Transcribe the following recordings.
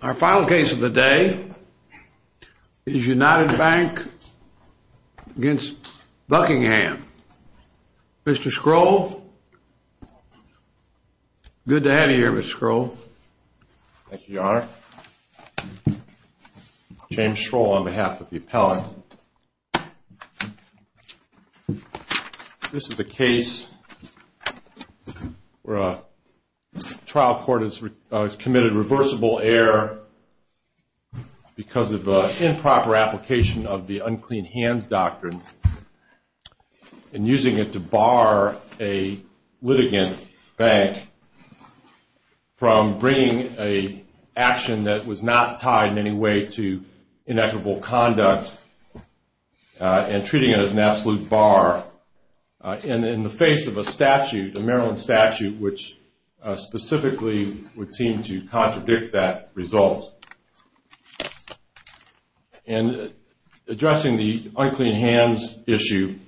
Our final case of the day is United Bank v. Buckingham. Mr. Scroll, good to have you on behalf of the appellant. This is a case where a trial court has committed reversible error because of improper application of the unclean hands doctrine and using it to bar a litigant bank from bringing an action that was not tied in any way to inequitable conduct and treating it as an absolute bar in the face of a statute, a Maryland statute, which specifically would seem to contradict that result. In addressing the unclean hands issue,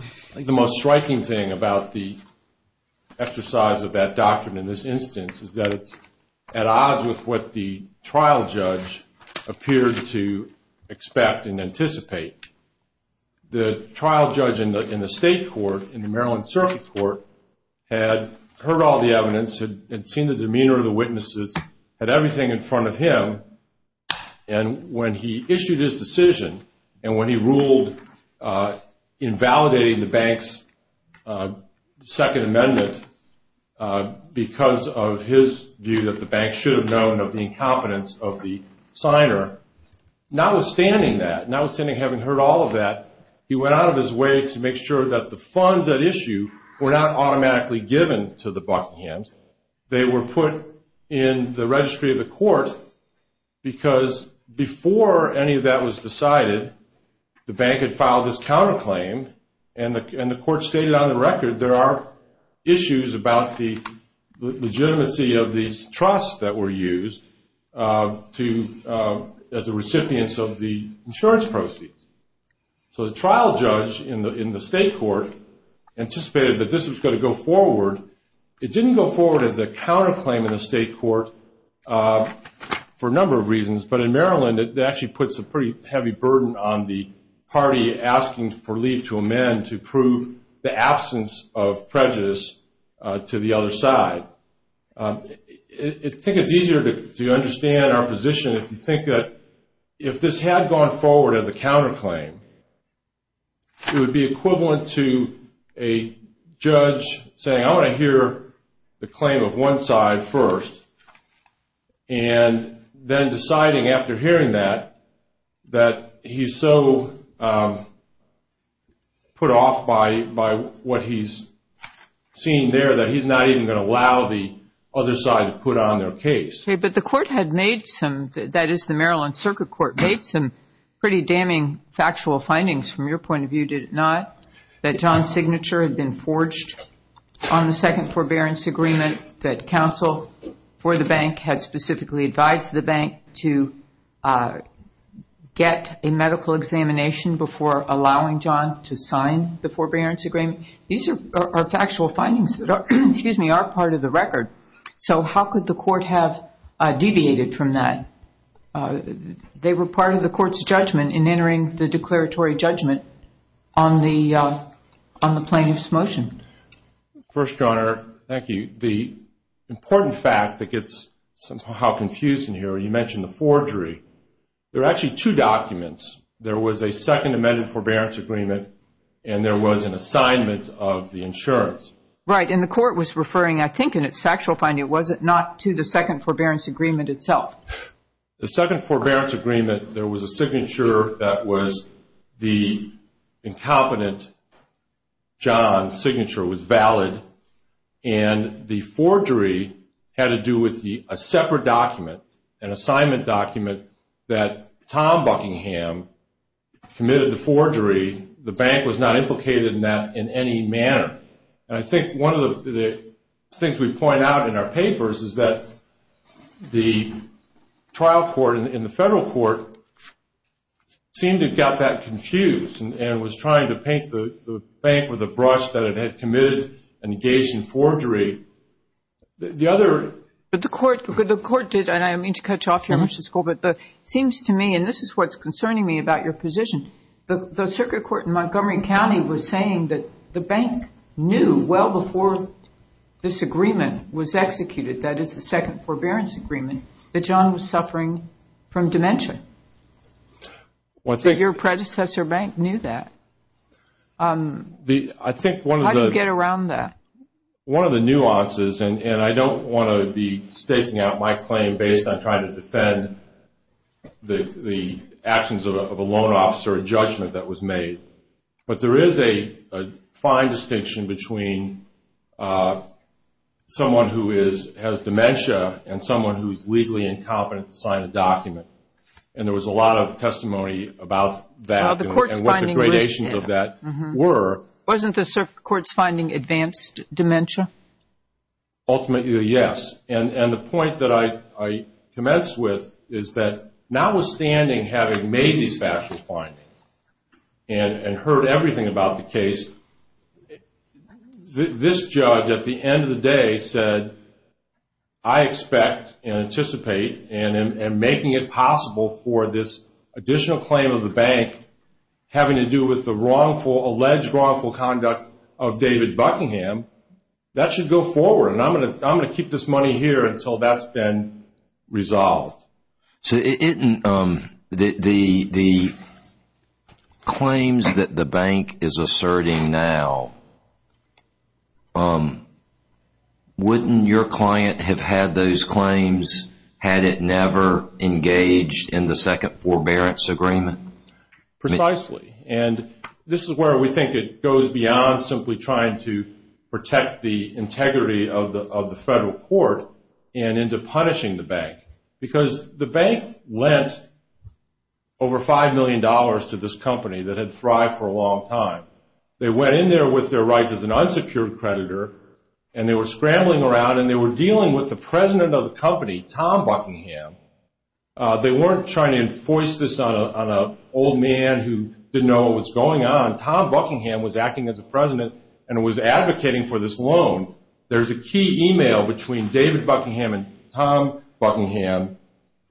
I think the most striking thing about the exercise of that The trial judge in the state court, in the Maryland circuit court, had heard all the evidence, had seen the demeanor of the witnesses, had everything in front of him, and when he issued his decision and when he ruled invalidating the bank's second amendment because of his view that the bank should have known of the incompetence of the signer, notwithstanding that, notwithstanding having heard all of that, he went out of his way to make sure that the funds at issue were not automatically given to the Buckinghams. They were put in the registry of the court because before any of that was decided, the bank had filed this counterclaim and the court stated on the record there are issues about the legitimacy of these trusts that were used to, as a result of that, the recipients of the insurance proceeds. So the trial judge in the state court anticipated that this was going to go forward. It didn't go forward as a counterclaim in the state court for a number of reasons, but in Maryland it actually puts a pretty heavy burden on the party asking for leave to amend to prove the absence of prejudice to the other side. I think it's easier to understand our position if you think that if this had gone forward as a counterclaim, it would be equivalent to a judge saying, I want to hear the claim of one side first, and then deciding after hearing that, that he's so put off by what he's seen there that he's not even going to allow it. He's going to allow the other side to put on their case. But the court had made some, that is the Maryland Circuit Court, made some pretty damning factual findings from your point of view, did it not? That John's signature had been forged on the second forbearance agreement that counsel for the bank had specifically advised the bank to get a medical examination before allowing John to sign the forbearance agreement. These are factual findings that are part of the record. So how could the court have deviated from that? They were part of the court's judgment in entering the declaratory judgment on the plaintiff's motion. First, Your Honor, thank you. The important fact that gets how confusing here, you mentioned the forgery. There are actually two documents. There was a second amended forbearance agreement, and there was an assignment of the insurance. Right, and the court was referring, I think in its factual finding, was it not to the second forbearance agreement itself? The second forbearance agreement, there was a signature that was the incompetent John's signature was valid, and the forgery had to do with a separate document, an assignment document that Tom Buckingham committed the forgery. The bank was not implicated in that in any manner. And I think one of the things we point out in our papers is that the trial court and the federal court seemed to have got that confused and was trying to paint the bank with a brush that it had committed an engagement forgery. But the court did, and I don't mean to cut you off, Your Honor, but it seems to me, and this is what's concerning me about your position, the circuit court in Montgomery County was saying that the bank knew well before this agreement was executed, that is the second forbearance agreement, that John was suffering from dementia. Your predecessor bank knew that. How do you get around that? One of the nuances, and I don't want to be staking out my claim based on trying to defend the actions of a loan officer or judgment that was made, but there is a fine distinction between someone who has dementia and someone who is legally incompetent to sign a document. And there was a lot of testimony about that and what the gradations of that were. Wasn't the circuit court's finding advanced dementia? Ultimately, yes. And the point that I commenced with is that notwithstanding having made these factual findings and heard everything about the case, this judge at the end of the day said, I expect and anticipate and making it possible for this additional claim of the bank having to do with the wrongful, alleged wrongful conduct of David Buckingham, that should go forward. And I'm going to keep this money here until that's been resolved. So the claims that the bank is asserting now, wouldn't your client have had those claims had it never engaged in the second forbearance agreement? Precisely. And this is where we think it goes beyond simply trying to protect the integrity of the federal court and into punishing the bank. Because the bank lent over $5 million to this company that had thrived for a long time. They went in there with their rights as an unsecured creditor and they were scrambling around and they were dealing with the president of the company, Tom Buckingham. They weren't trying to enforce this on an old man who didn't know what was going on. Tom Buckingham was acting as a president and was advocating for this loan. There's a key email between David Buckingham and Tom Buckingham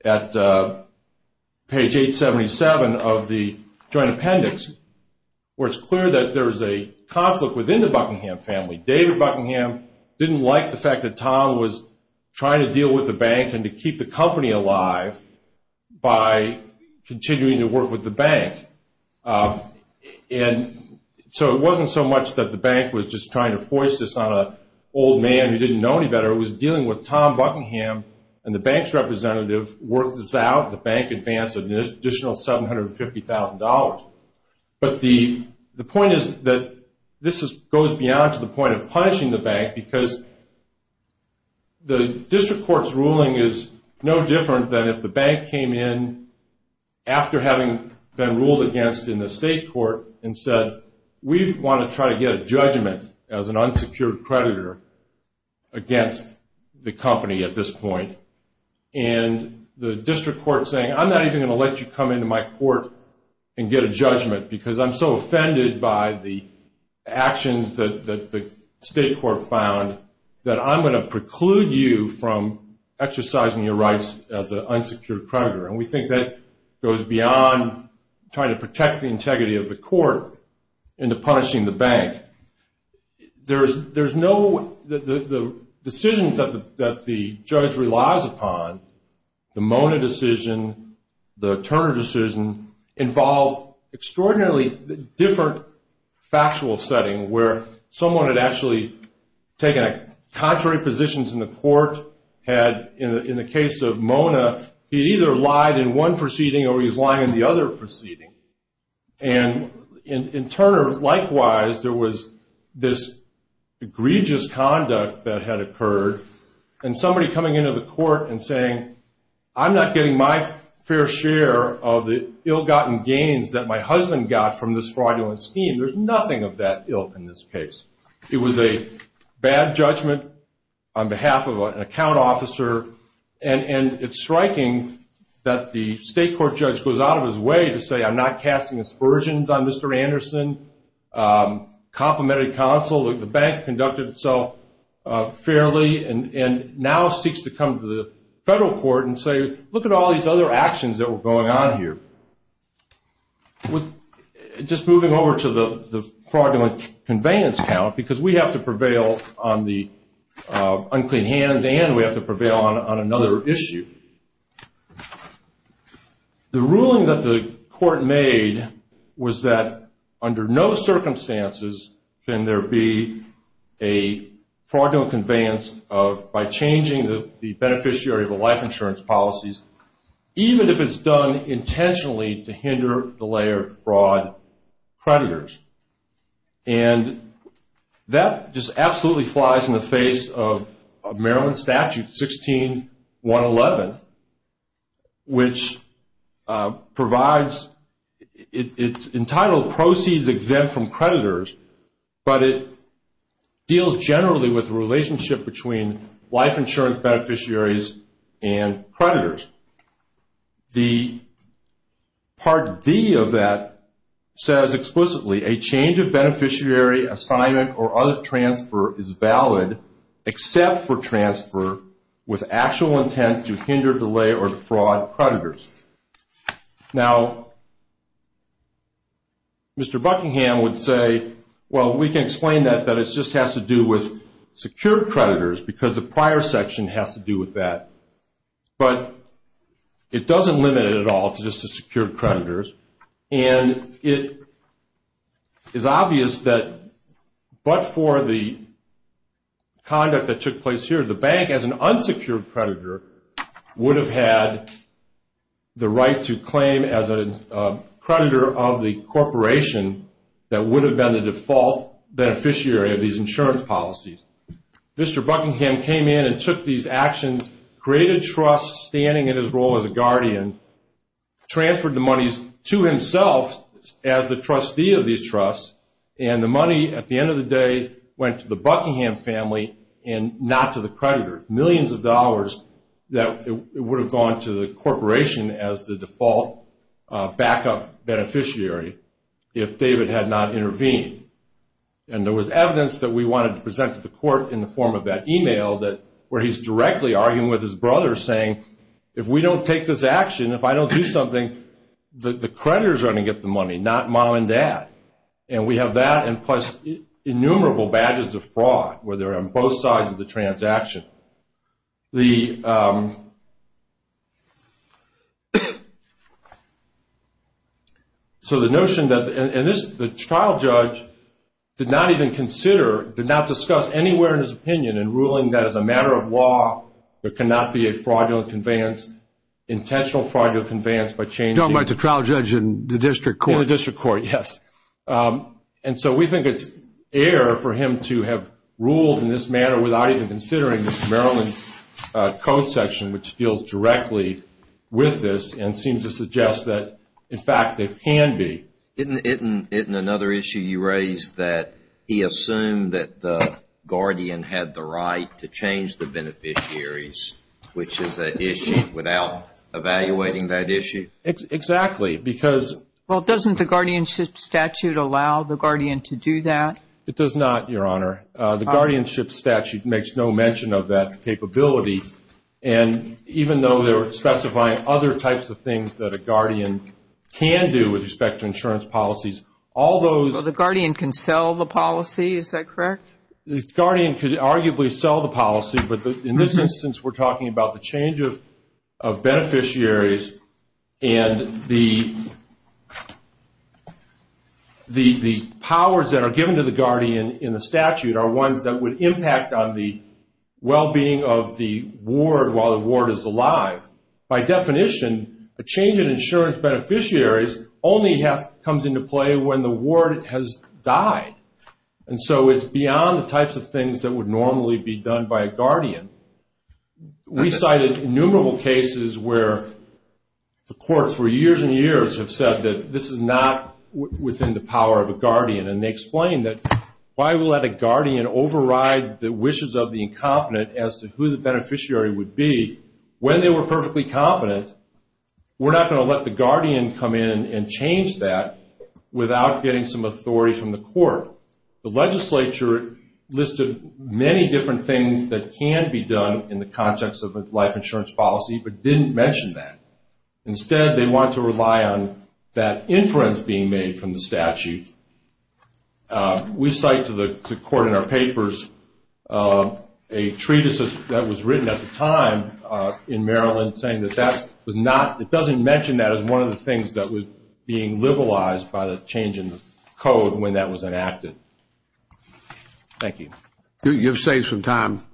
at page 877 of the joint appendix where it's clear that there's a conflict within the Buckingham family. David Buckingham didn't like the fact that Tom was trying to deal with the bank and to keep the company alive by continuing to work with the bank. And so it wasn't so much that the bank was just trying to force this on an old man who didn't know any better. It was dealing with Tom Buckingham and the bank's representative worked this out and the bank advanced an additional $750,000. But the point is that this goes beyond to the point of punishing the bank because the district court's ruling is no different than if the bank came in after having been ruled against in the state court and said, we want to try to get a judgment as an unsecured creditor against the company at this point. And the district court saying, I'm not even going to let you come into my court and get a judgment because I'm so offended by the actions that the state court found that I'm going to preclude you from exercising your rights as an unsecured creditor. And we think that goes beyond trying to protect the integrity of the court into punishing the bank. There's no – the decisions that the judge relies upon, the Mona decision, the Turner decision, involve extraordinarily different factual setting where someone had actually taken contrary positions in the court, had in the case of Mona, he either lied in one proceeding or he was lying in the other proceeding. And in Turner, likewise, there was this egregious conduct that had occurred and somebody coming into the court and saying, I'm not getting my fair share of the ill-gotten gains that my husband got from this fraudulent scheme. There's nothing of that ill in this case. It was a bad judgment on behalf of an account officer. And it's striking that the state court judge goes out of his way to say, I'm not casting aspersions on Mr. Anderson, complimented counsel. The bank conducted itself fairly and now seeks to come to the federal court and say, look at all these other actions that were going on here. Just moving over to the fraudulent conveyance count, because we have to prevail on the unclean hands and we have to prevail on another issue. The ruling that the court made was that under no circumstances can there be a fraudulent conveyance by changing the beneficiary of the life insurance policies, even if it's done intentionally to hinder the layer of fraud creditors. And that just absolutely flies in the face of Maryland Statute 16111, which provides, it's entitled proceeds exempt from creditors, but it deals generally with the relationship between life insurance beneficiaries and creditors. The Part D of that says explicitly, a change of beneficiary assignment or other transfer is valid except for transfer with actual intent to hinder, delay, or defraud creditors. Now, Mr. Buckingham would say, well, we can explain that, that it just has to do with secure creditors because the prior section has to do with that. But it doesn't limit it at all just to secure creditors, and it is obvious that but for the conduct that took place here, the bank as an unsecured creditor would have had the right to claim as a creditor of the corporation that would have been the default beneficiary of these insurance policies. Mr. Buckingham came in and took these actions, created trusts standing in his role as a guardian, transferred the monies to himself as the trustee of these trusts, and the money at the end of the day went to the Buckingham family and not to the creditor, millions of dollars that would have gone to the corporation as the default backup beneficiary if David had not intervened. And there was evidence that we wanted to present to the court in the form of that email where he's directly arguing with his brother saying, if we don't take this action, if I don't do something, the creditors are going to get the money, not mom and dad. And we have that and plus innumerable badges of fraud where they're on both sides of the transaction. So the notion that the trial judge did not even consider, did not discuss anywhere in his opinion in ruling that as a matter of law, there cannot be a fraudulent conveyance, intentional fraudulent conveyance by changing- You're talking about the trial judge in the district court? In the district court, yes. And so we think it's air for him to have ruled in this manner without even considering the Maryland code section, which deals directly with this and seems to suggest that, in fact, it can be. Isn't another issue you raised that he assumed that the guardian had the right to change the beneficiaries, which is an issue without evaluating that issue? Exactly, because- Well, doesn't the guardianship statute allow the guardian to do that? It does not, Your Honor. The guardianship statute makes no mention of that capability. And even though they're specifying other types of things that a guardian can do with respect to insurance policies, all those- Well, the guardian can sell the policy, is that correct? The guardian could arguably sell the policy, but in this instance, we're talking about the change of beneficiaries and the powers that are given to the guardian in the statute are ones that would impact on the well-being of the ward while the ward is alive. By definition, a change in insurance beneficiaries only comes into play when the ward has died. And so it's beyond the types of things that would normally be done by a guardian. We cited innumerable cases where the courts, for years and years, have said that this is not within the power of a guardian. And they explained that why would let a guardian override the wishes of the incompetent as to who the beneficiary would be when they were perfectly competent? We're not going to let the guardian come in and change that without getting some authority from the court. The legislature listed many different things that can be done in the context of a life insurance policy but didn't mention that. Instead, they want to rely on that inference being made from the statute. We cite to the court in our papers a treatise that was written at the time in Maryland saying that that was not, it doesn't mention that as one of the things that was being liberalized by the change in the code when that was enacted. Thank you. You've saved some time.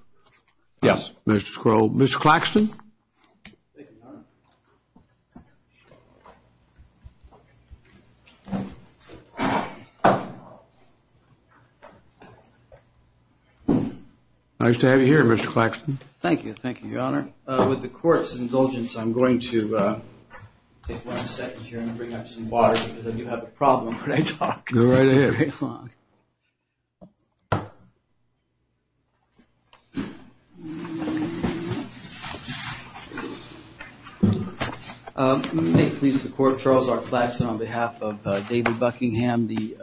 Yes. Mr. Claxton. Nice to have you here, Mr. Claxton. Thank you. Thank you, Your Honor. With the court's indulgence, I'm going to take one second here and bring up some water because I do have a problem when I talk. Go right ahead. May it please the court, Charles R. Claxton, on behalf of David Buckingham. The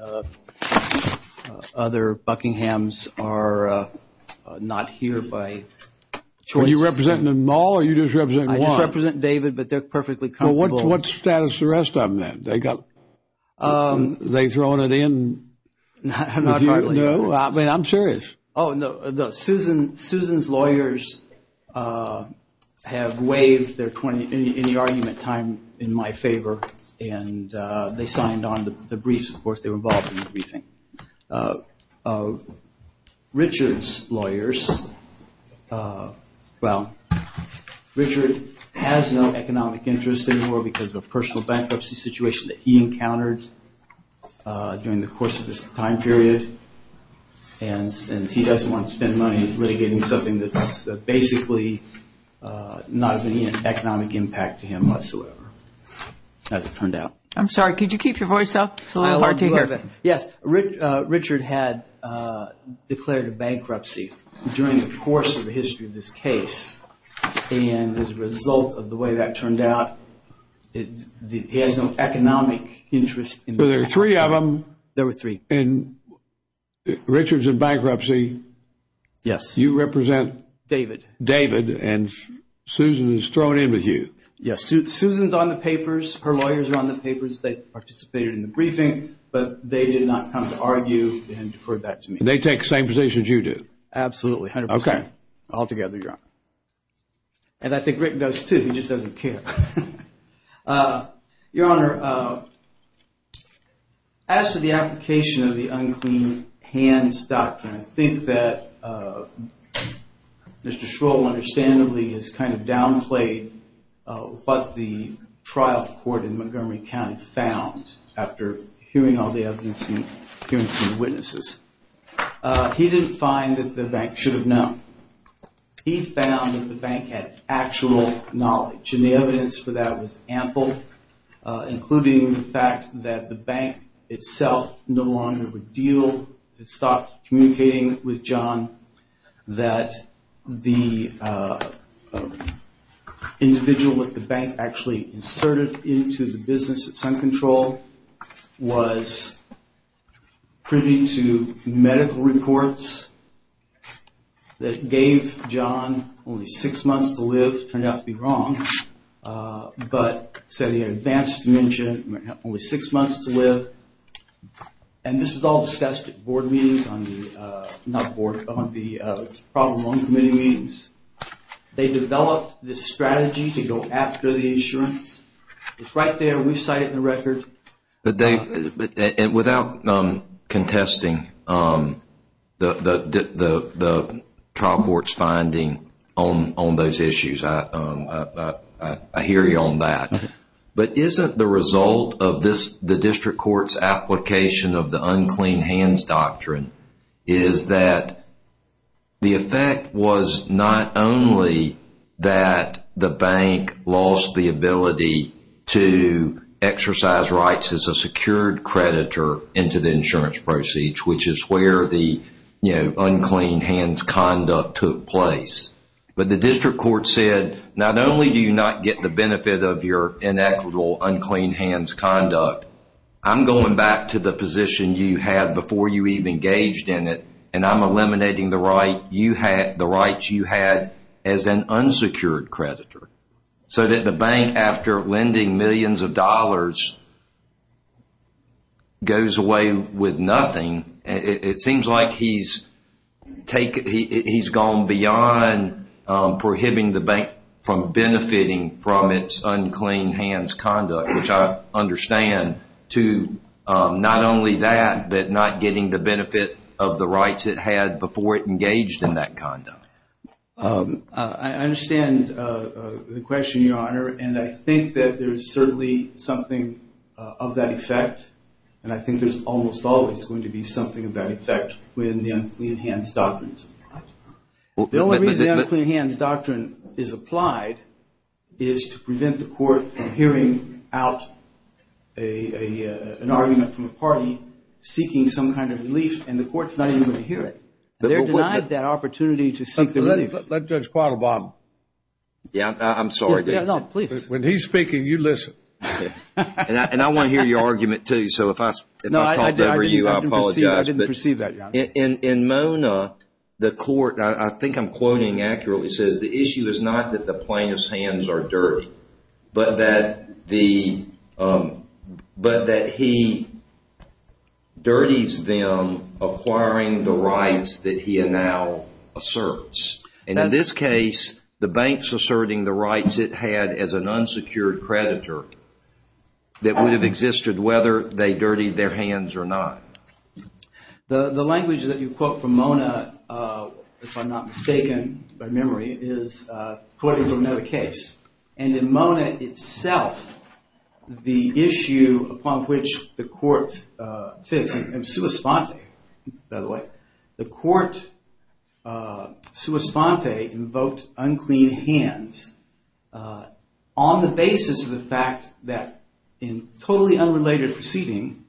other Buckinghams are not here by choice. Are you representing them all or are you just representing one? I just represent David, but they're perfectly comfortable. Well, what's the status of the rest of them then? They got, are they throwing it in? Not currently. No? I mean, I'm serious. Oh, no. Susan's lawyers have waived any argument time in my favor, and they signed on the briefs. Of course, they were involved in the briefing. Richard's lawyers, well, Richard has no economic interest anymore because of a personal bankruptcy situation that he encountered during the course of this time period. And he doesn't want to spend money litigating something that's basically not of any economic impact to him whatsoever, as it turned out. I'm sorry. Could you keep your voice up? It's a little hard to hear. Yes. Richard had declared a bankruptcy during the course of the history of this case. And as a result of the way that turned out, he has no economic interest. Were there three of them? There were three. And Richard's in bankruptcy. Yes. You represent? David. David. And Susan is throwing in with you. Yes. Susan's on the papers. Her lawyers are on the papers. They participated in the briefing, but they did not come to argue and deferred that to me. And they take the same position as you do? Absolutely, 100%. Okay. Altogether, Your Honor. And I think Rick does, too. He just doesn't care. Your Honor, as to the application of the unclean hands doctrine, I think that Mr. Shroll understandably has kind of downplayed what the trial court in Montgomery County found after hearing all the evidence and hearing from the witnesses. He didn't find that the bank should have known. He found that the bank had actual knowledge, and the evidence for that was ample, including the fact that the bank itself no longer would deal, stopped communicating with John, that the individual that the bank actually inserted into the business at Sun Control was privy to medical reports that gave John only six months to live. Turned out to be wrong. But said he had advanced dementia, only six months to live. And this was all discussed at board meetings on the problem on committee meetings. They developed this strategy to go after the insurance. It's right there. We cite it in the record. Without contesting the trial court's finding on those issues, I hear you on that. But isn't the result of the district court's application of the unclean hands doctrine is that the effect was not only that the bank lost the ability to exercise rights as a secured creditor into the insurance proceeds, which is where the unclean hands conduct took place. But the district court said, not only do you not get the benefit of your inequitable unclean hands conduct, I'm going back to the position you had before you even engaged in it, and I'm eliminating the rights you had as an unsecured creditor. So that the bank, after lending millions of dollars, goes away with nothing. It seems like he's gone beyond prohibiting the bank from benefiting from its unclean hands conduct, which I understand, to not only that, but not getting the benefit of the rights it had before it engaged in that conduct. I understand the question, Your Honor, and I think that there's certainly something of that effect, and I think there's almost always going to be something of that effect within the unclean hands doctrines. The only reason the unclean hands doctrine is applied is to prevent the court from hearing out an argument from the party seeking some kind of relief, and the court's not even going to hear it. They're denied that opportunity to seek relief. Let Judge Quattle bob. Yeah, I'm sorry. No, please. When he's speaking, you listen. And I want to hear your argument too, so if I talk over you, I apologize. I didn't perceive that, Your Honor. In Mona, the court, I think I'm quoting accurately, says, the issue is not that the plaintiff's hands are dirty, but that he dirties them acquiring the rights that he now asserts. And in this case, the bank's asserting the rights it had as an unsecured creditor that would have existed whether they dirtied their hands or not. The language that you quote from Mona, if I'm not mistaken by memory, is quoting from another case. And in Mona itself, the issue upon which the court fits, in sua sponte, by the way, the court sua sponte invoked unclean hands on the basis of the fact that in totally unrelated proceeding,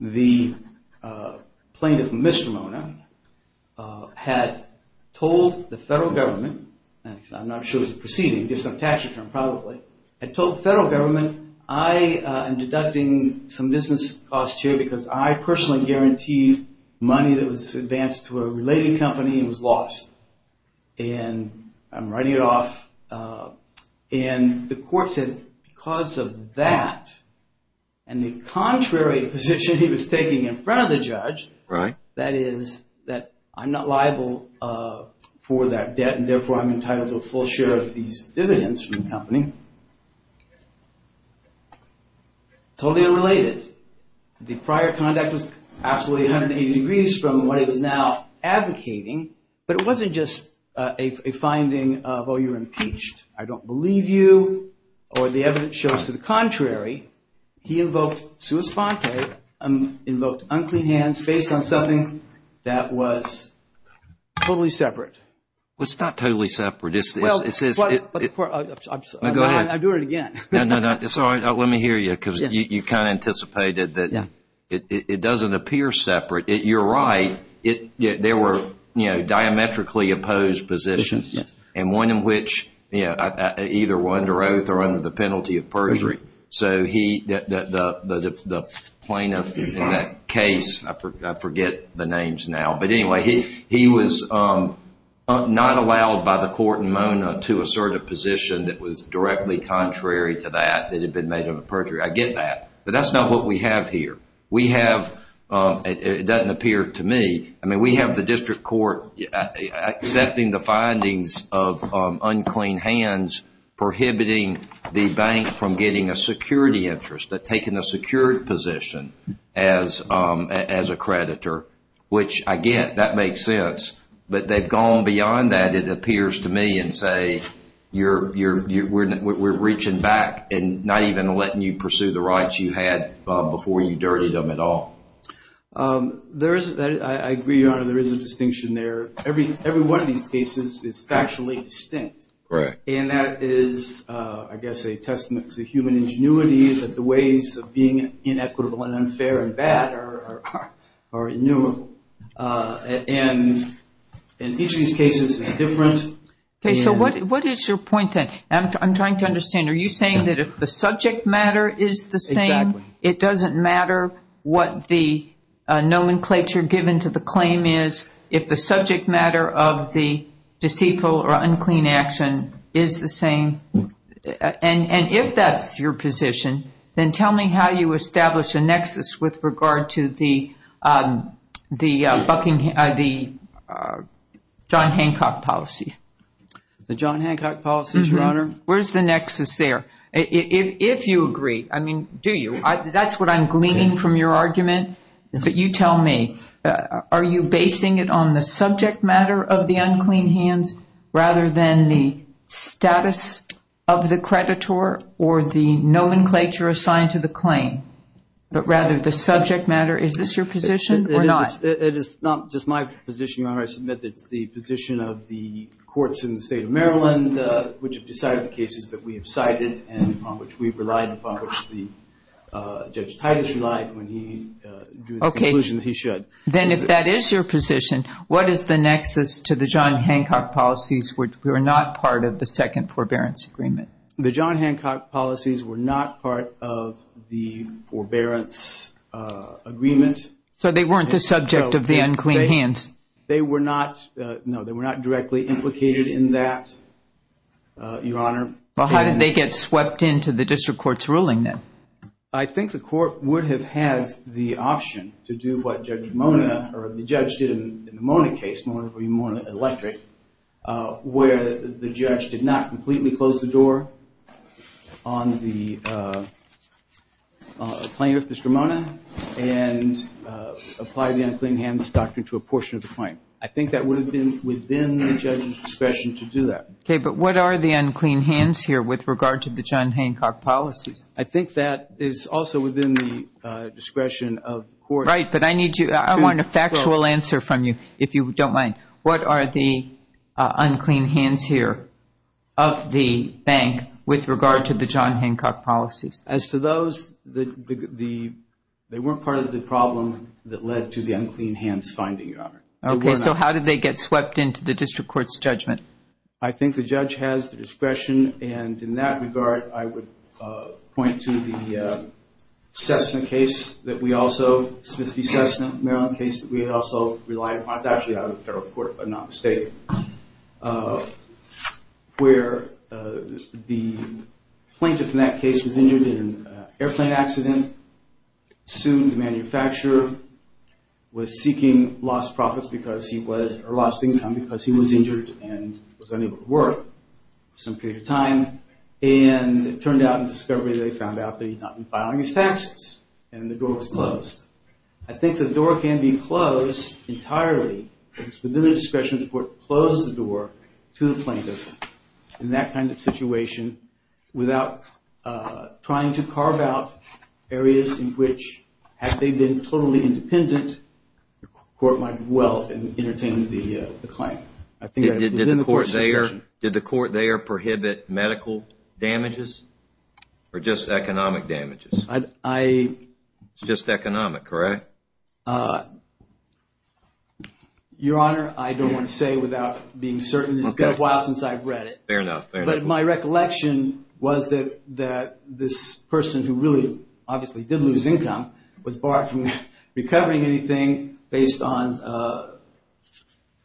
the plaintiff, Mr. Mona, had told the federal government, and I'm not sure it was a proceeding, just some tax return probably, had told the federal government, I am deducting some business costs here because I personally guaranteed money that was advanced to a related company and was lost. And I'm writing it off. And the court said because of that, and the contrary position he was taking in front of the judge, that is that I'm not liable for that debt and therefore I'm entitled to a full share of these dividends from the company, totally unrelated. The prior conduct was absolutely 180 degrees from what he was now advocating, but it wasn't just a finding of, oh, you're impeached, I don't believe you, or the evidence shows to the contrary. He invoked sua sponte, invoked unclean hands, based on something that was totally separate. Well, it's not totally separate. I'll do it again. No, no, no, it's all right. Let me hear you because you kind of anticipated that it doesn't appear separate. You're right. There were diametrically opposed positions, and one in which either were under oath or under the penalty of perjury. So the plaintiff in that case, I forget the names now, but anyway, he was not allowed by the court in Mona to assert a position that was directly contrary to that, that had been made of a perjury. I get that, but that's not what we have here. It doesn't appear to me. I mean, we have the district court accepting the findings of unclean hands, prohibiting the bank from getting a security interest, taking a secured position as a creditor, which I get. That makes sense. But they've gone beyond that, it appears to me, and say we're reaching back and not even letting you pursue the rights you had before you dirtied them at all. I agree, Your Honor, there is a distinction there. Every one of these cases is factually distinct. And that is, I guess, a testament to human ingenuity, that the ways of being inequitable and unfair and bad are innumerable. And each of these cases is different. Okay, so what is your point then? I'm trying to understand. Are you saying that if the subject matter is the same, it doesn't matter what the nomenclature given to the claim is, if the subject matter of the deceitful or unclean action is the same? And if that's your position, then tell me how you establish a nexus with regard to the John Hancock policy. The John Hancock policy, Your Honor. Where's the nexus there? If you agree, I mean, do you? That's what I'm gleaning from your argument. But you tell me. Are you basing it on the subject matter of the unclean hands rather than the status of the creditor or the nomenclature assigned to the claim, but rather the subject matter? Is this your position or not? It is not just my position, Your Honor. I submit that it's the position of the courts in the state of Maryland, which have decided the cases that we have cited and upon which we've relied and upon which Judge Titus relied when he drew the conclusion that he should. Then if that is your position, what is the nexus to the John Hancock policies which were not part of the second forbearance agreement? The John Hancock policies were not part of the forbearance agreement. So they weren't the subject of the unclean hands? They were not. No, they were not directly implicated in that, Your Honor. Well, how did they get swept into the district court's ruling then? I think the court would have had the option to do what Judge Mona or the judge did in the Mona case, Mona v. Mona Electric, where the judge did not completely close the door on the claim of Mr. Mona and apply the unclean hands doctrine to a portion of the claim. I think that would have been within the judge's discretion to do that. Okay, but what are the unclean hands here with regard to the John Hancock policies? I think that is also within the discretion of the court. Right, but I want a factual answer from you, if you don't mind. What are the unclean hands here of the bank with regard to the John Hancock policies? As for those, they weren't part of the problem that led to the unclean hands finding, Your Honor. Okay, so how did they get swept into the district court's judgment? I think the judge has the discretion, and in that regard, I would point to the Smith v. Cessna case that we also relied upon. It's actually out of the federal court, but not the state, where the plaintiff in that case was injured in an airplane accident. Soon, the manufacturer was seeking lost profits because he was, or lost income because he was injured and was unable to work for some period of time, and it turned out in discovery, they found out that he had not been filing his taxes, and the door was closed. I think the door can be closed entirely. It's within the discretion of the court to close the door to the plaintiff in that kind of situation without trying to carve out areas in which, had they been totally independent, the court might well have entertained the claim. Did the court there prohibit medical damages or just economic damages? Just economic, correct? Your Honor, I don't want to say without being certain. It's been a while since I've read it. Fair enough. But my recollection was that this person who really obviously did lose income was barred from recovering anything based on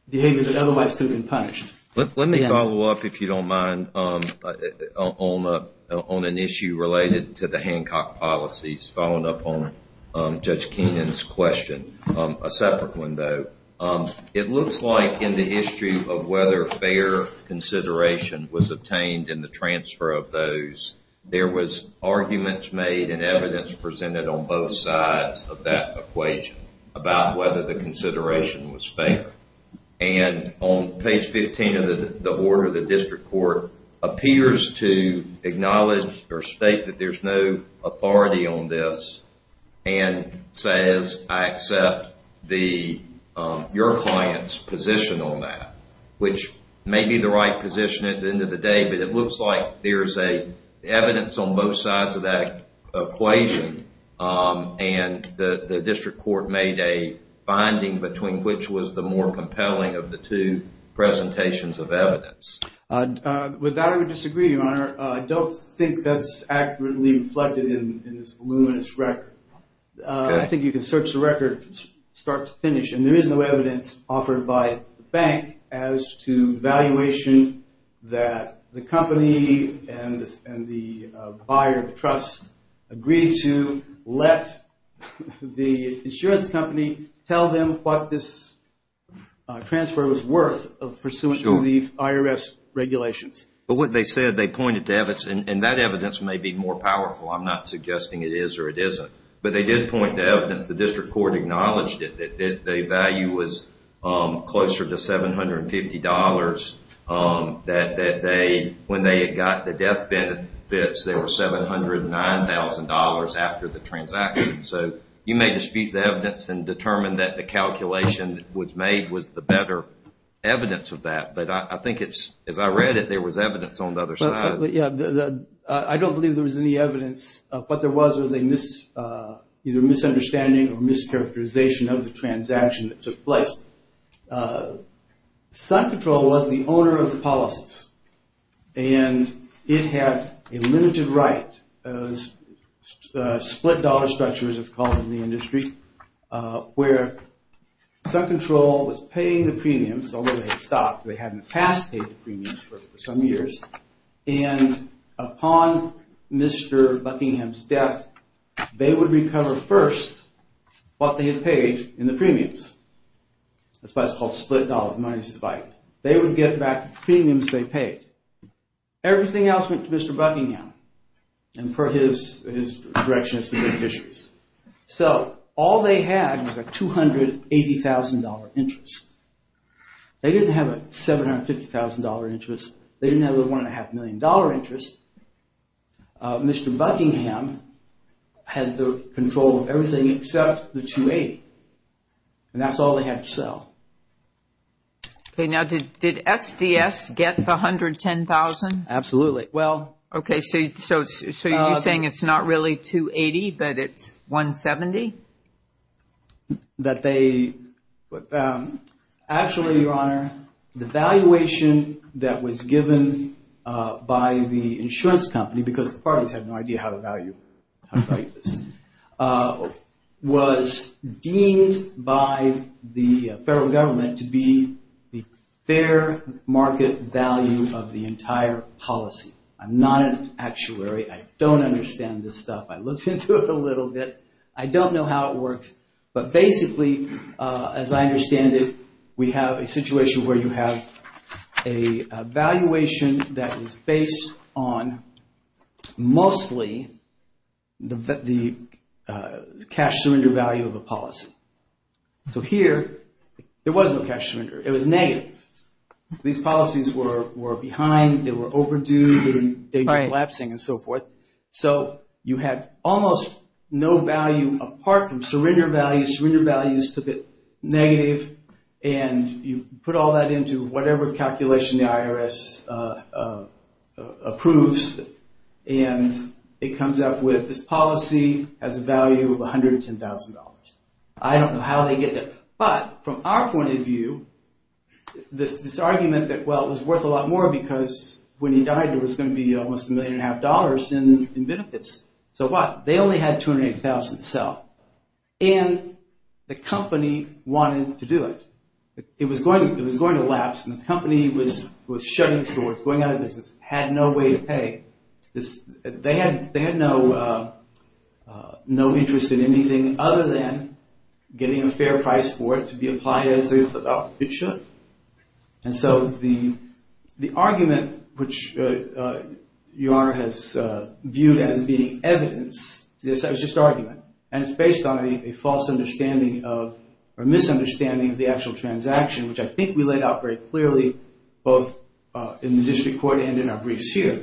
behaviors that otherwise could have been punished. Let me follow up, if you don't mind, on an issue related to the Hancock policies, following up on Judge Keenan's question. A separate one, though. It looks like in the history of whether fair consideration was obtained in the transfer of those, there was arguments made and evidence presented on both sides of that equation about whether the consideration was fair. And on page 15 of the order, the district court appears to acknowledge or state that there's no authority on this and says, I accept your client's position on that, which may be the right position at the end of the day, but it looks like there's evidence on both sides of that equation. And the district court made a finding between which was the more compelling of the two presentations of evidence. With that, I would disagree, Your Honor. I don't think that's accurately reflected in this voluminous record. I think you can search the record from start to finish, and there is no evidence offered by the bank as to the valuation that the company and the buyer of the trust agreed to let the insurance company tell them what this transfer was worth pursuant to the IRS regulations. But what they said, they pointed to evidence, and that evidence may be more powerful. I'm not suggesting it is or it isn't. But they did point to evidence. The district court acknowledged that the value was closer to $750. That when they got the death benefits, they were $709,000 after the transaction. So you may dispute the evidence and determine that the calculation was made was the better evidence of that. But I think it's, as I read it, there was evidence on the other side. But yeah, I don't believe there was any evidence. But there was a misunderstanding or mischaracterization of the transaction that took place. Sun Control was the owner of the policies. And it had a limited right. It was a split dollar structure, as it's called in the industry, where Sun Control was paying the premiums, although they had stopped. They hadn't past paid the premiums for some years. And upon Mr. Buckingham's death, they would recover first what they had paid in the premiums. That's why it's called split dollar. The money is divided. They would get back the premiums they paid. Everything else went to Mr. Buckingham. And per his direction, it's the beneficiaries. So all they had was a $280,000 interest. They didn't have a $750,000 interest. They didn't have a $1.5 million interest. Mr. Buckingham had the control of everything except the $280,000. And that's all they had to sell. Okay, now did SDS get the $110,000? Absolutely. Okay, so you're saying it's not really $280,000, but it's $170,000? Actually, Your Honor, the valuation that was given by the insurance company, because the parties had no idea how to value this, was deemed by the federal government to be the fair market value of the entire policy. I'm not an actuary. I don't understand this stuff. I looked into it a little bit. I don't know how it works. But basically, as I understand it, we have a situation where you have a valuation that is based on mostly the cash surrender value of a policy. So here, there was no cash surrender. It was negative. These policies were behind. They were overdue. They were collapsing and so forth. So you had almost no value apart from surrender values. The cash surrender values took it negative, and you put all that into whatever calculation the IRS approves, and it comes up with this policy has a value of $110,000. I don't know how they get there. But from our point of view, this argument that, well, it was worth a lot more because when he died, there was going to be almost $1.5 million in benefits. So what? They only had $280,000 to sell. And the company wanted to do it. It was going to lapse, and the company was shutting its doors, going out of business, had no way to pay. They had no interest in anything other than getting a fair price for it to be applied as it should. And so the argument, which your Honor has viewed as being evidence, it's just argument, and it's based on a false understanding of or misunderstanding of the actual transaction, which I think we laid out very clearly both in the district court and in our briefs here.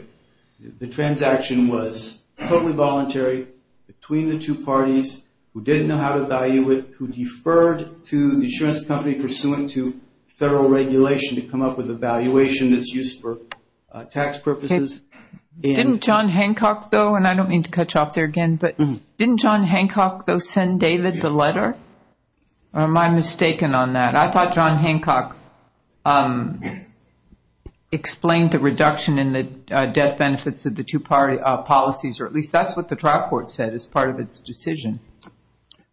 The transaction was totally voluntary between the two parties who didn't know how to value it, who deferred to the insurance company pursuant to federal regulation to come up with a valuation that's used for tax purposes. Didn't John Hancock, though, and I don't mean to cut you off there again, but didn't John Hancock, though, send David the letter? Or am I mistaken on that? I thought John Hancock explained the reduction in the death benefits of the two-party policies, or at least that's what the trial court said as part of its decision.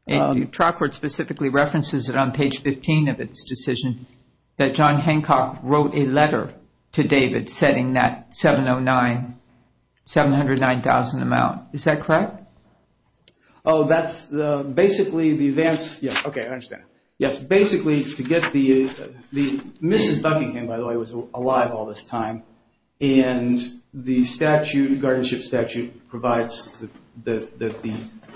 The trial court specifically references it on page 15 of its decision that John Hancock wrote a letter to David setting that 709, 709,000 amount. Is that correct? Oh, that's basically the advance... Okay, I understand. Yes, basically to get the... Mrs. Buckingham, by the way, was alive all this time. And the statute, guardianship statute, provides that the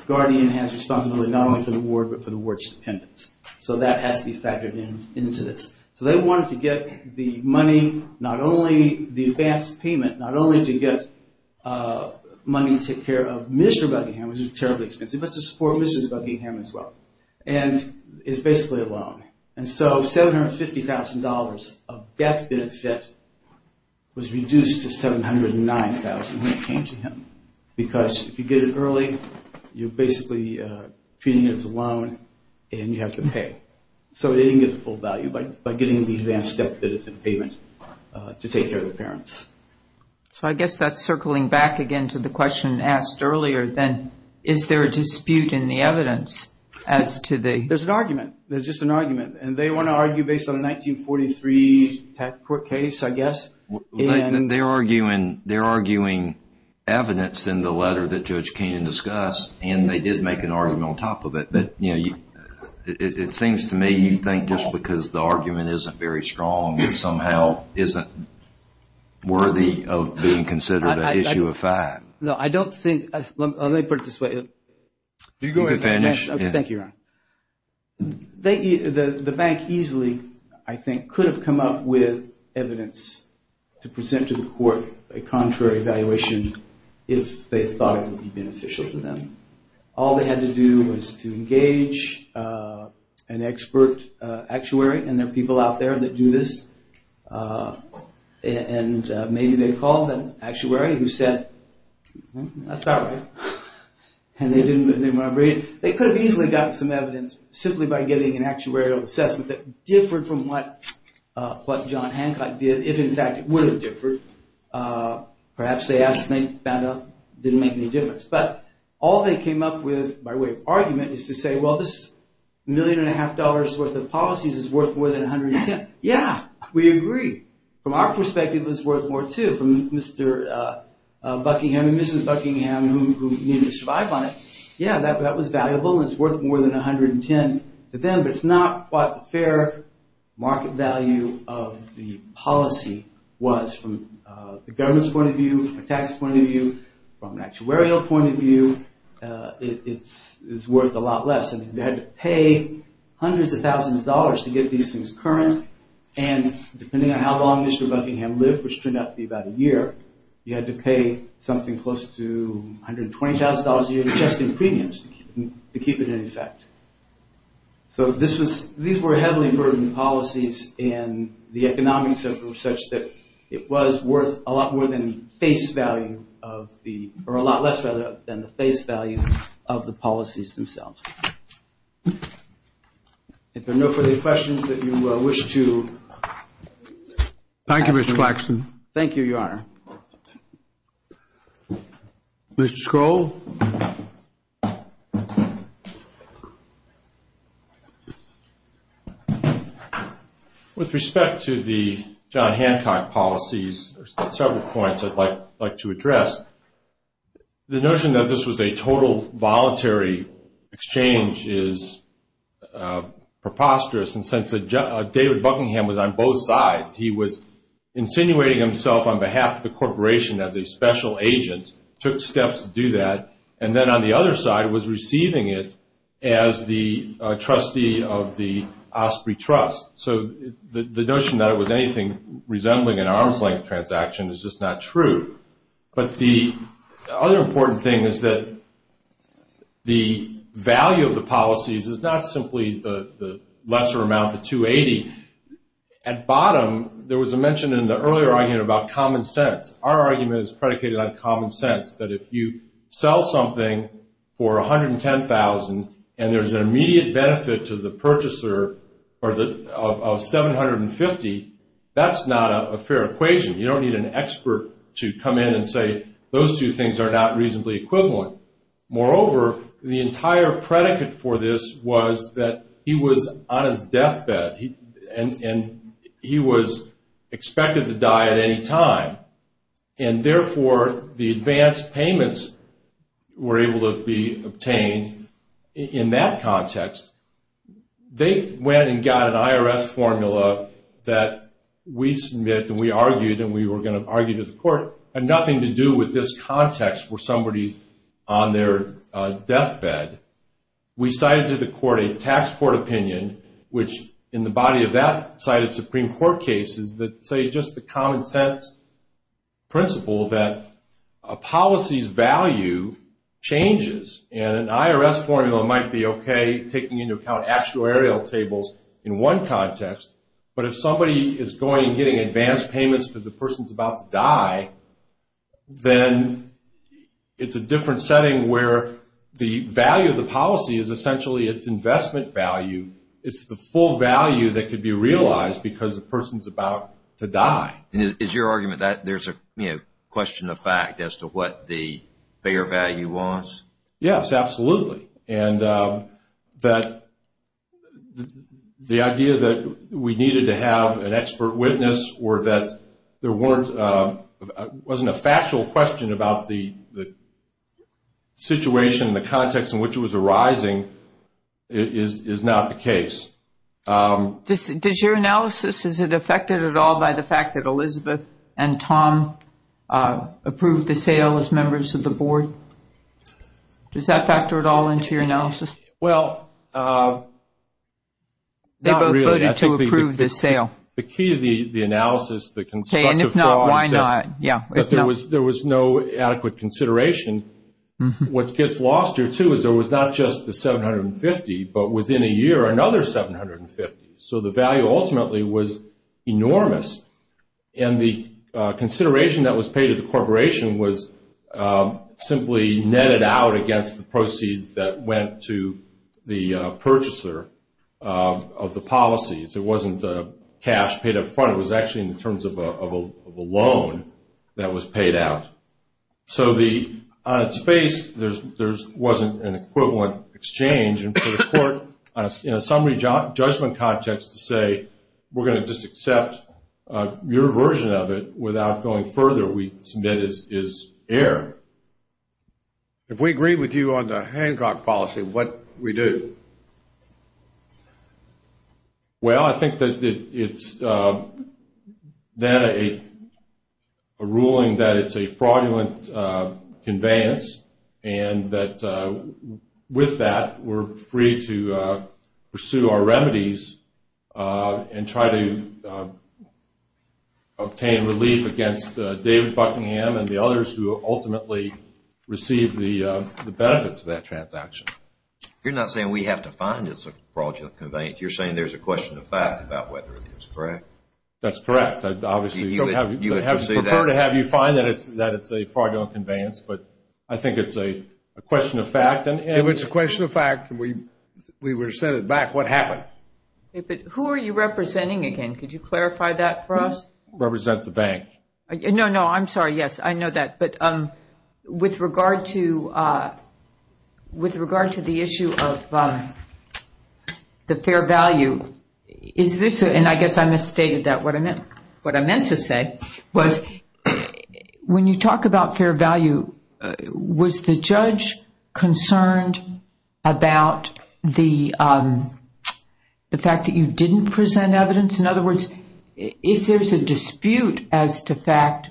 guardian has responsibility not only for the ward, but for the ward's dependents. So that has to be factored into this. So they wanted to get the money, not only the advance payment, not only to get money to take care of Mr. Buckingham, which is terribly expensive, but to support Mrs. Buckingham as well. And it's basically a loan. And so $750,000 of death benefit was reduced to 709,000 when it came to him. Because if you get it early, you're basically treating it as a loan and you have to pay. So it didn't get the full value, but by getting the advance debt benefit payment to take care of the parents. So I guess that's circling back again to the question asked earlier, then is there a dispute in the evidence as to the... There's an argument. There's just an argument. And they want to argue based on a 1943 tax court case, I guess. They're arguing evidence in the letter that Judge Kainan discussed, and they did make an argument on top of it. But, you know, it seems to me you think just because the argument isn't very strong, it somehow isn't worthy of being considered an issue of fact. No, I don't think... Let me put it this way. You can finish. Okay, thank you, Ron. The bank easily, I think, could have come up with evidence to present to the court a contrary evaluation if they thought it would be beneficial to them. All they had to do was to engage an expert actuary, and there are people out there that do this, and maybe they called an actuary who said, that's not right. And they didn't... They could have easily gotten some evidence simply by getting an actuarial assessment that differed from what John Hancock did, if, in fact, it would have differed. Perhaps they asked and they found out it didn't make any difference. But all they came up with by way of argument is to say, well, this million and a half dollars' worth of policies is worth more than 110. Yeah, we agree. From our perspective, it was worth more, too. From Mr. Buckingham and Mrs. Buckingham, who needed to survive on it, yeah, that was valuable and it's worth more than 110 to them. But it's not what fair market value of the policy was from the government's point of view, from a tax point of view, from an actuarial point of view, it's worth a lot less. They had to pay hundreds of thousands of dollars to get these things current, and depending on how long Mr. Buckingham lived, which turned out to be about a year, you had to pay something close to $120,000 a year just in premiums to keep it in effect. So these were heavily burdened policies and the economics of them were such that it was worth a lot more than the face value of the or a lot less, rather, than the face value of the policies themselves. If there are no further questions that you wish to ask. Thank you, Mr. Flaxman. Thank you, Your Honor. Mr. Scroll. With respect to the John Hancock policies, there are several points I'd like to address. The notion that this was a total voluntary exchange is preposterous in the sense that David Buckingham was on both sides. He was insinuating himself on behalf of the corporation as a special agent, took steps to do that, and then on the other side was receiving it as the trustee of the Osprey Trust. So the notion that it was anything resembling an arm's length transaction is just not true. But the other important thing is that the value of the policies is not simply the lesser amount, the 280. At bottom, there was a mention in the earlier argument about common sense. Our argument is predicated on common sense, that if you sell something for 110,000 and there's an immediate benefit to the purchaser of 750, that's not a fair equation. You don't need an expert to come in and say those two things are not reasonably equivalent. Moreover, the entire predicate for this was that he was on his deathbed. And he was expected to die at any time. And therefore, the advance payments were able to be obtained in that context. They went and got an IRS formula that we submit and we argued and we were going to argue to the court had nothing to do with this context where somebody's on their deathbed. We cited to the court a tax court opinion, which in the body of that cited Supreme Court cases, that say just the common sense principle that a policy's value changes. And an IRS formula might be okay taking into account actuarial tables in one context. But if somebody is going and getting advance payments because the person's about to die, then it's a different setting where the value of the policy is essentially its investment value. It's the full value that could be realized because the person's about to die. And is your argument that there's a question of fact as to what the fair value was? Yes, absolutely. And that the idea that we needed to have an expert witness or that there wasn't a factual question about the situation, the context in which it was arising is not the case. Does your analysis, is it affected at all by the fact that Elizabeth and Tom approved the sale as members of the board? Does that factor at all into your analysis? Well, not really. They both voted to approve the sale. The key to the analysis, the constructive for all, is that there was no adequate consideration. What gets lost here, too, is there was not just the 750, but within a year, another 750. So the value ultimately was enormous. And the consideration that was paid to the corporation was simply netted out against the proceeds that went to the purchaser of the policies. It wasn't cash paid up front. It was actually in terms of a loan that was paid out. So on its face, there wasn't an equivalent exchange. And for the court, in a summary judgment context, to say we're going to just accept your version of it without going further, we submit is air. If we agree with you on the Hancock policy, what do we do? Well, I think that it's then a ruling that it's a fraudulent conveyance. And that with that, we're free to pursue our remedies and try to obtain relief against David Buckingham and the others who ultimately received the benefits of that transaction. You're not saying we have to find it's a fraudulent conveyance. You're saying there's a question of fact about whether it is, correct? That's correct. I'd prefer to have you find that it's a fraudulent conveyance. But I think it's a question of fact. If it's a question of fact and we were sent it back, what happened? Who are you representing again? Could you clarify that for us? Represent the bank. No, no, I'm sorry. Yes, I know that. But with regard to the issue of the fair value, is this, and I guess I misstated that. What I meant to say was when you talk about fair value, was the judge concerned about the fact that you didn't present evidence? In other words, if there's a dispute as to fact,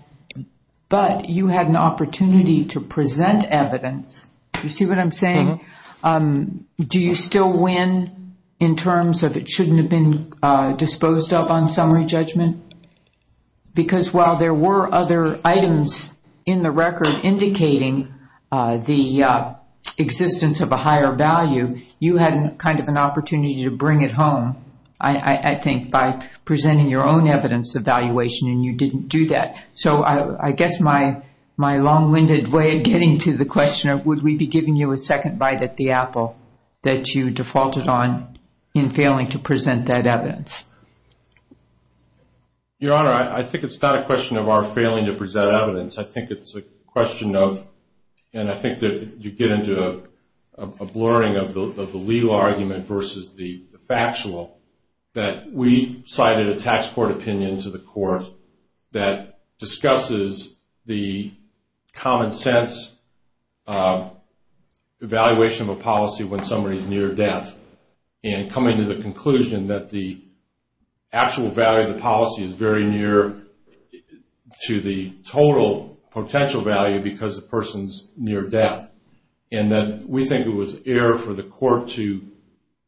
but you had an opportunity to present evidence, do you see what I'm saying? Do you still win in terms of it shouldn't have been disposed of on summary judgment? Because while there were other items in the record indicating the existence of a higher value, you had kind of an opportunity to bring it home, I think, by presenting your own evidence evaluation and you didn't do that. So I guess my long-winded way of getting to the questioner, would we be giving you a second bite at the apple that you defaulted on in failing to present that evidence? Your Honor, I think it's not a question of our failing to present evidence. I think it's a question of, and I think that you get into a blurring of the legal argument versus the factual, that we cited a tax court opinion to the court that discusses the common sense evaluation of a policy when somebody's near death. And coming to the conclusion that the actual value of the policy is very near to the total potential value because the person's near death. And that we think it was error for the court to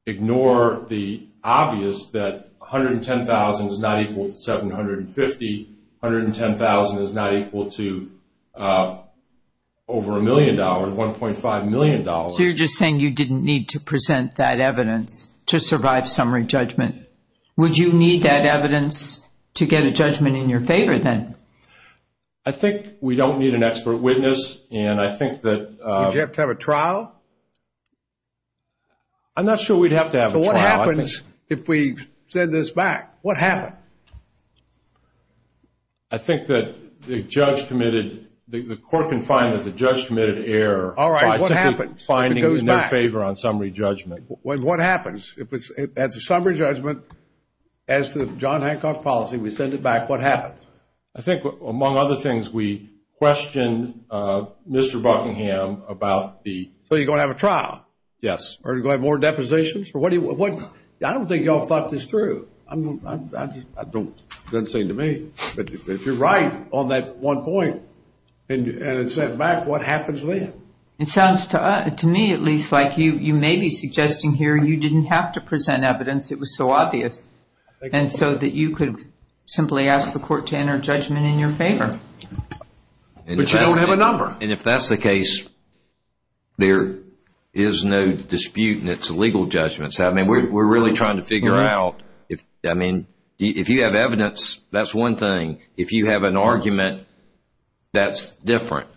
ignore the obvious that $110,000 is not equal to $750,000. $110,000 is not equal to over $1 million, $1.5 million. So you're just saying you didn't need to present that evidence to survive summary judgment. Would you need that evidence to get a judgment in your favor then? I think we don't need an expert witness and I think that Would you have to have a trial? I'm not sure we'd have to have a trial. What happens if we send this back? What happened? I think that the court can find that the judge committed error by simply finding no favor on summary judgment. What happens if at the summary judgment as to the John Hancock policy, we send it back, what happens? I think among other things we question Mr. Hancock, are you going to have a trial? Yes. I don't think you all thought this through. It doesn't seem to me. But if you're right on that one point and it's sent back, what happens then? It sounds to me at least like you may be suggesting here you didn't have to present evidence. It was so obvious. And so that you could simply ask the court to enter a judgment in your favor. But you don't have a number. And if that's the case, there is no dispute in its legal judgments. We're really trying to figure out if you have evidence, that's one thing. If you have an argument, that's different.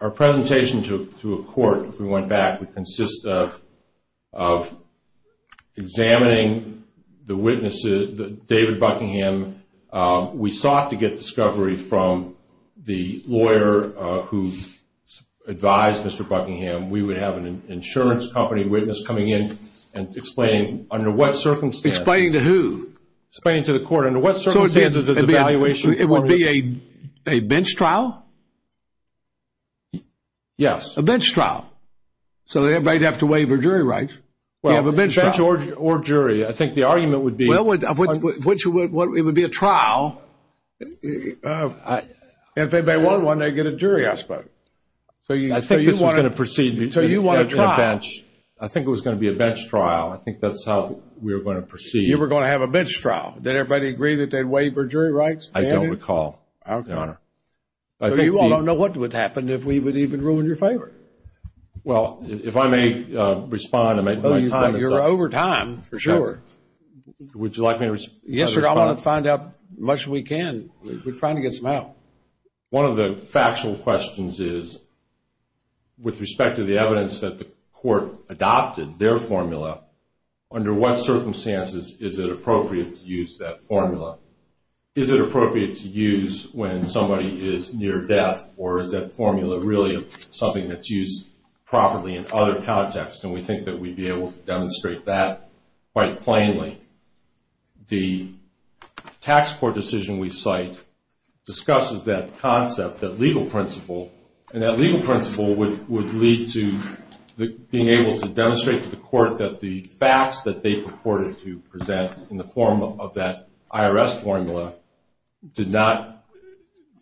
Our presentation to a court, if we went back, would consist of examining the witnesses, David Buckingham. We sought to get discovery from the lawyer who advised Mr. Buckingham. We would have an insurance company witness coming in and explaining under what circumstances. Explaining to who? Explaining to the court under what circumstances. It would be a bench trial? Yes. A bench trial. So everybody would have to waive their jury rights. You have a bench or jury. I think the argument would be it would be a trial. And if they want one, they get a jury, I suppose. I think this was going to proceed in a bench. I think it was going to be a bench trial. I think that's how we were going to proceed. You were going to have a bench trial. Did everybody agree that they'd waive their jury rights, David? I don't recall, Your Honor. So you all don't know what would happen if we would even ruin your favor. Well, if I may respond. You're over time, for sure. Would you like me to respond? Yes, sir. I want to find out as much as we can. We're trying to get some out. One of the factual questions is with respect to the evidence that the court adopted their formula, under what circumstances is it appropriate to use that formula? Is it appropriate to use when somebody is near death or is that formula really something that's used properly in other contexts? And we think that we'd be able to demonstrate that quite plainly. The tax court decision we cite discusses that concept, that legal principle, and that legal principle would lead to being able to demonstrate to the court that the facts that they purported to present in the form of that IRS formula did not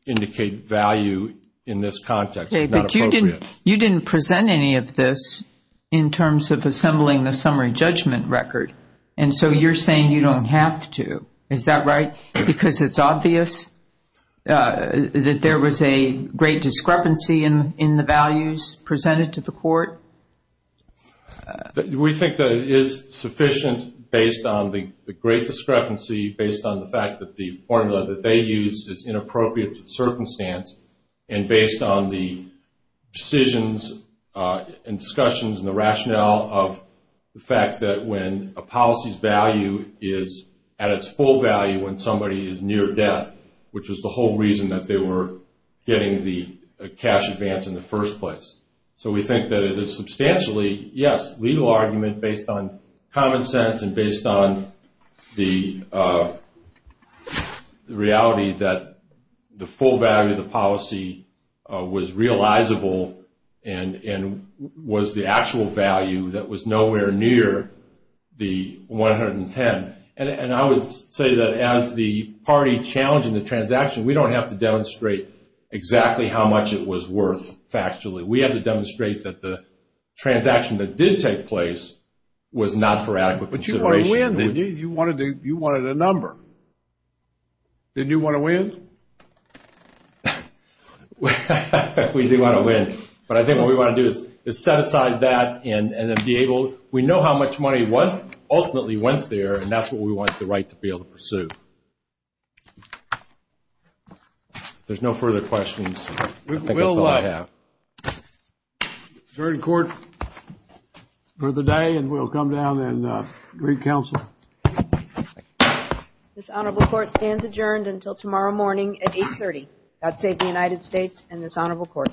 indicate value in this context. You didn't present any of this in terms of assembling the summary judgment record, and so you're saying you don't have to. Is that right? Because it's obvious that there was a great discrepancy in the values presented to the court? We think that it is sufficient based on the great discrepancy, based on the fact that the formula that they use is inappropriate to the circumstance, and based on the decisions and discussions and the rationale of the fact that when a policy's value is at its full value when somebody is near death, which is the whole reason that they were getting the cash advance in the first place. So we think that it is substantially, yes, legal argument based on common sense and based on the reality that the full value of the policy was realizable and was the actual value that was nowhere near the 110. And I would say that as the party challenged in the transaction, we don't have to demonstrate exactly how much it was worth factually. We have to demonstrate that the transaction that did take place was not for adequate consideration. But you wanted to win, didn't you? You wanted a number. Didn't you want to win? We do want to win. But I think what we want to do is set aside that and then be able, we know how much money ultimately went there, and that's what we want the right to be able to pursue. If there's no further questions, I think that's all I have. We'll adjourn court for the day, and we'll come down and re-counsel. This honorable court stands adjourned until tomorrow morning at 8.30. God save the United States and this honorable court.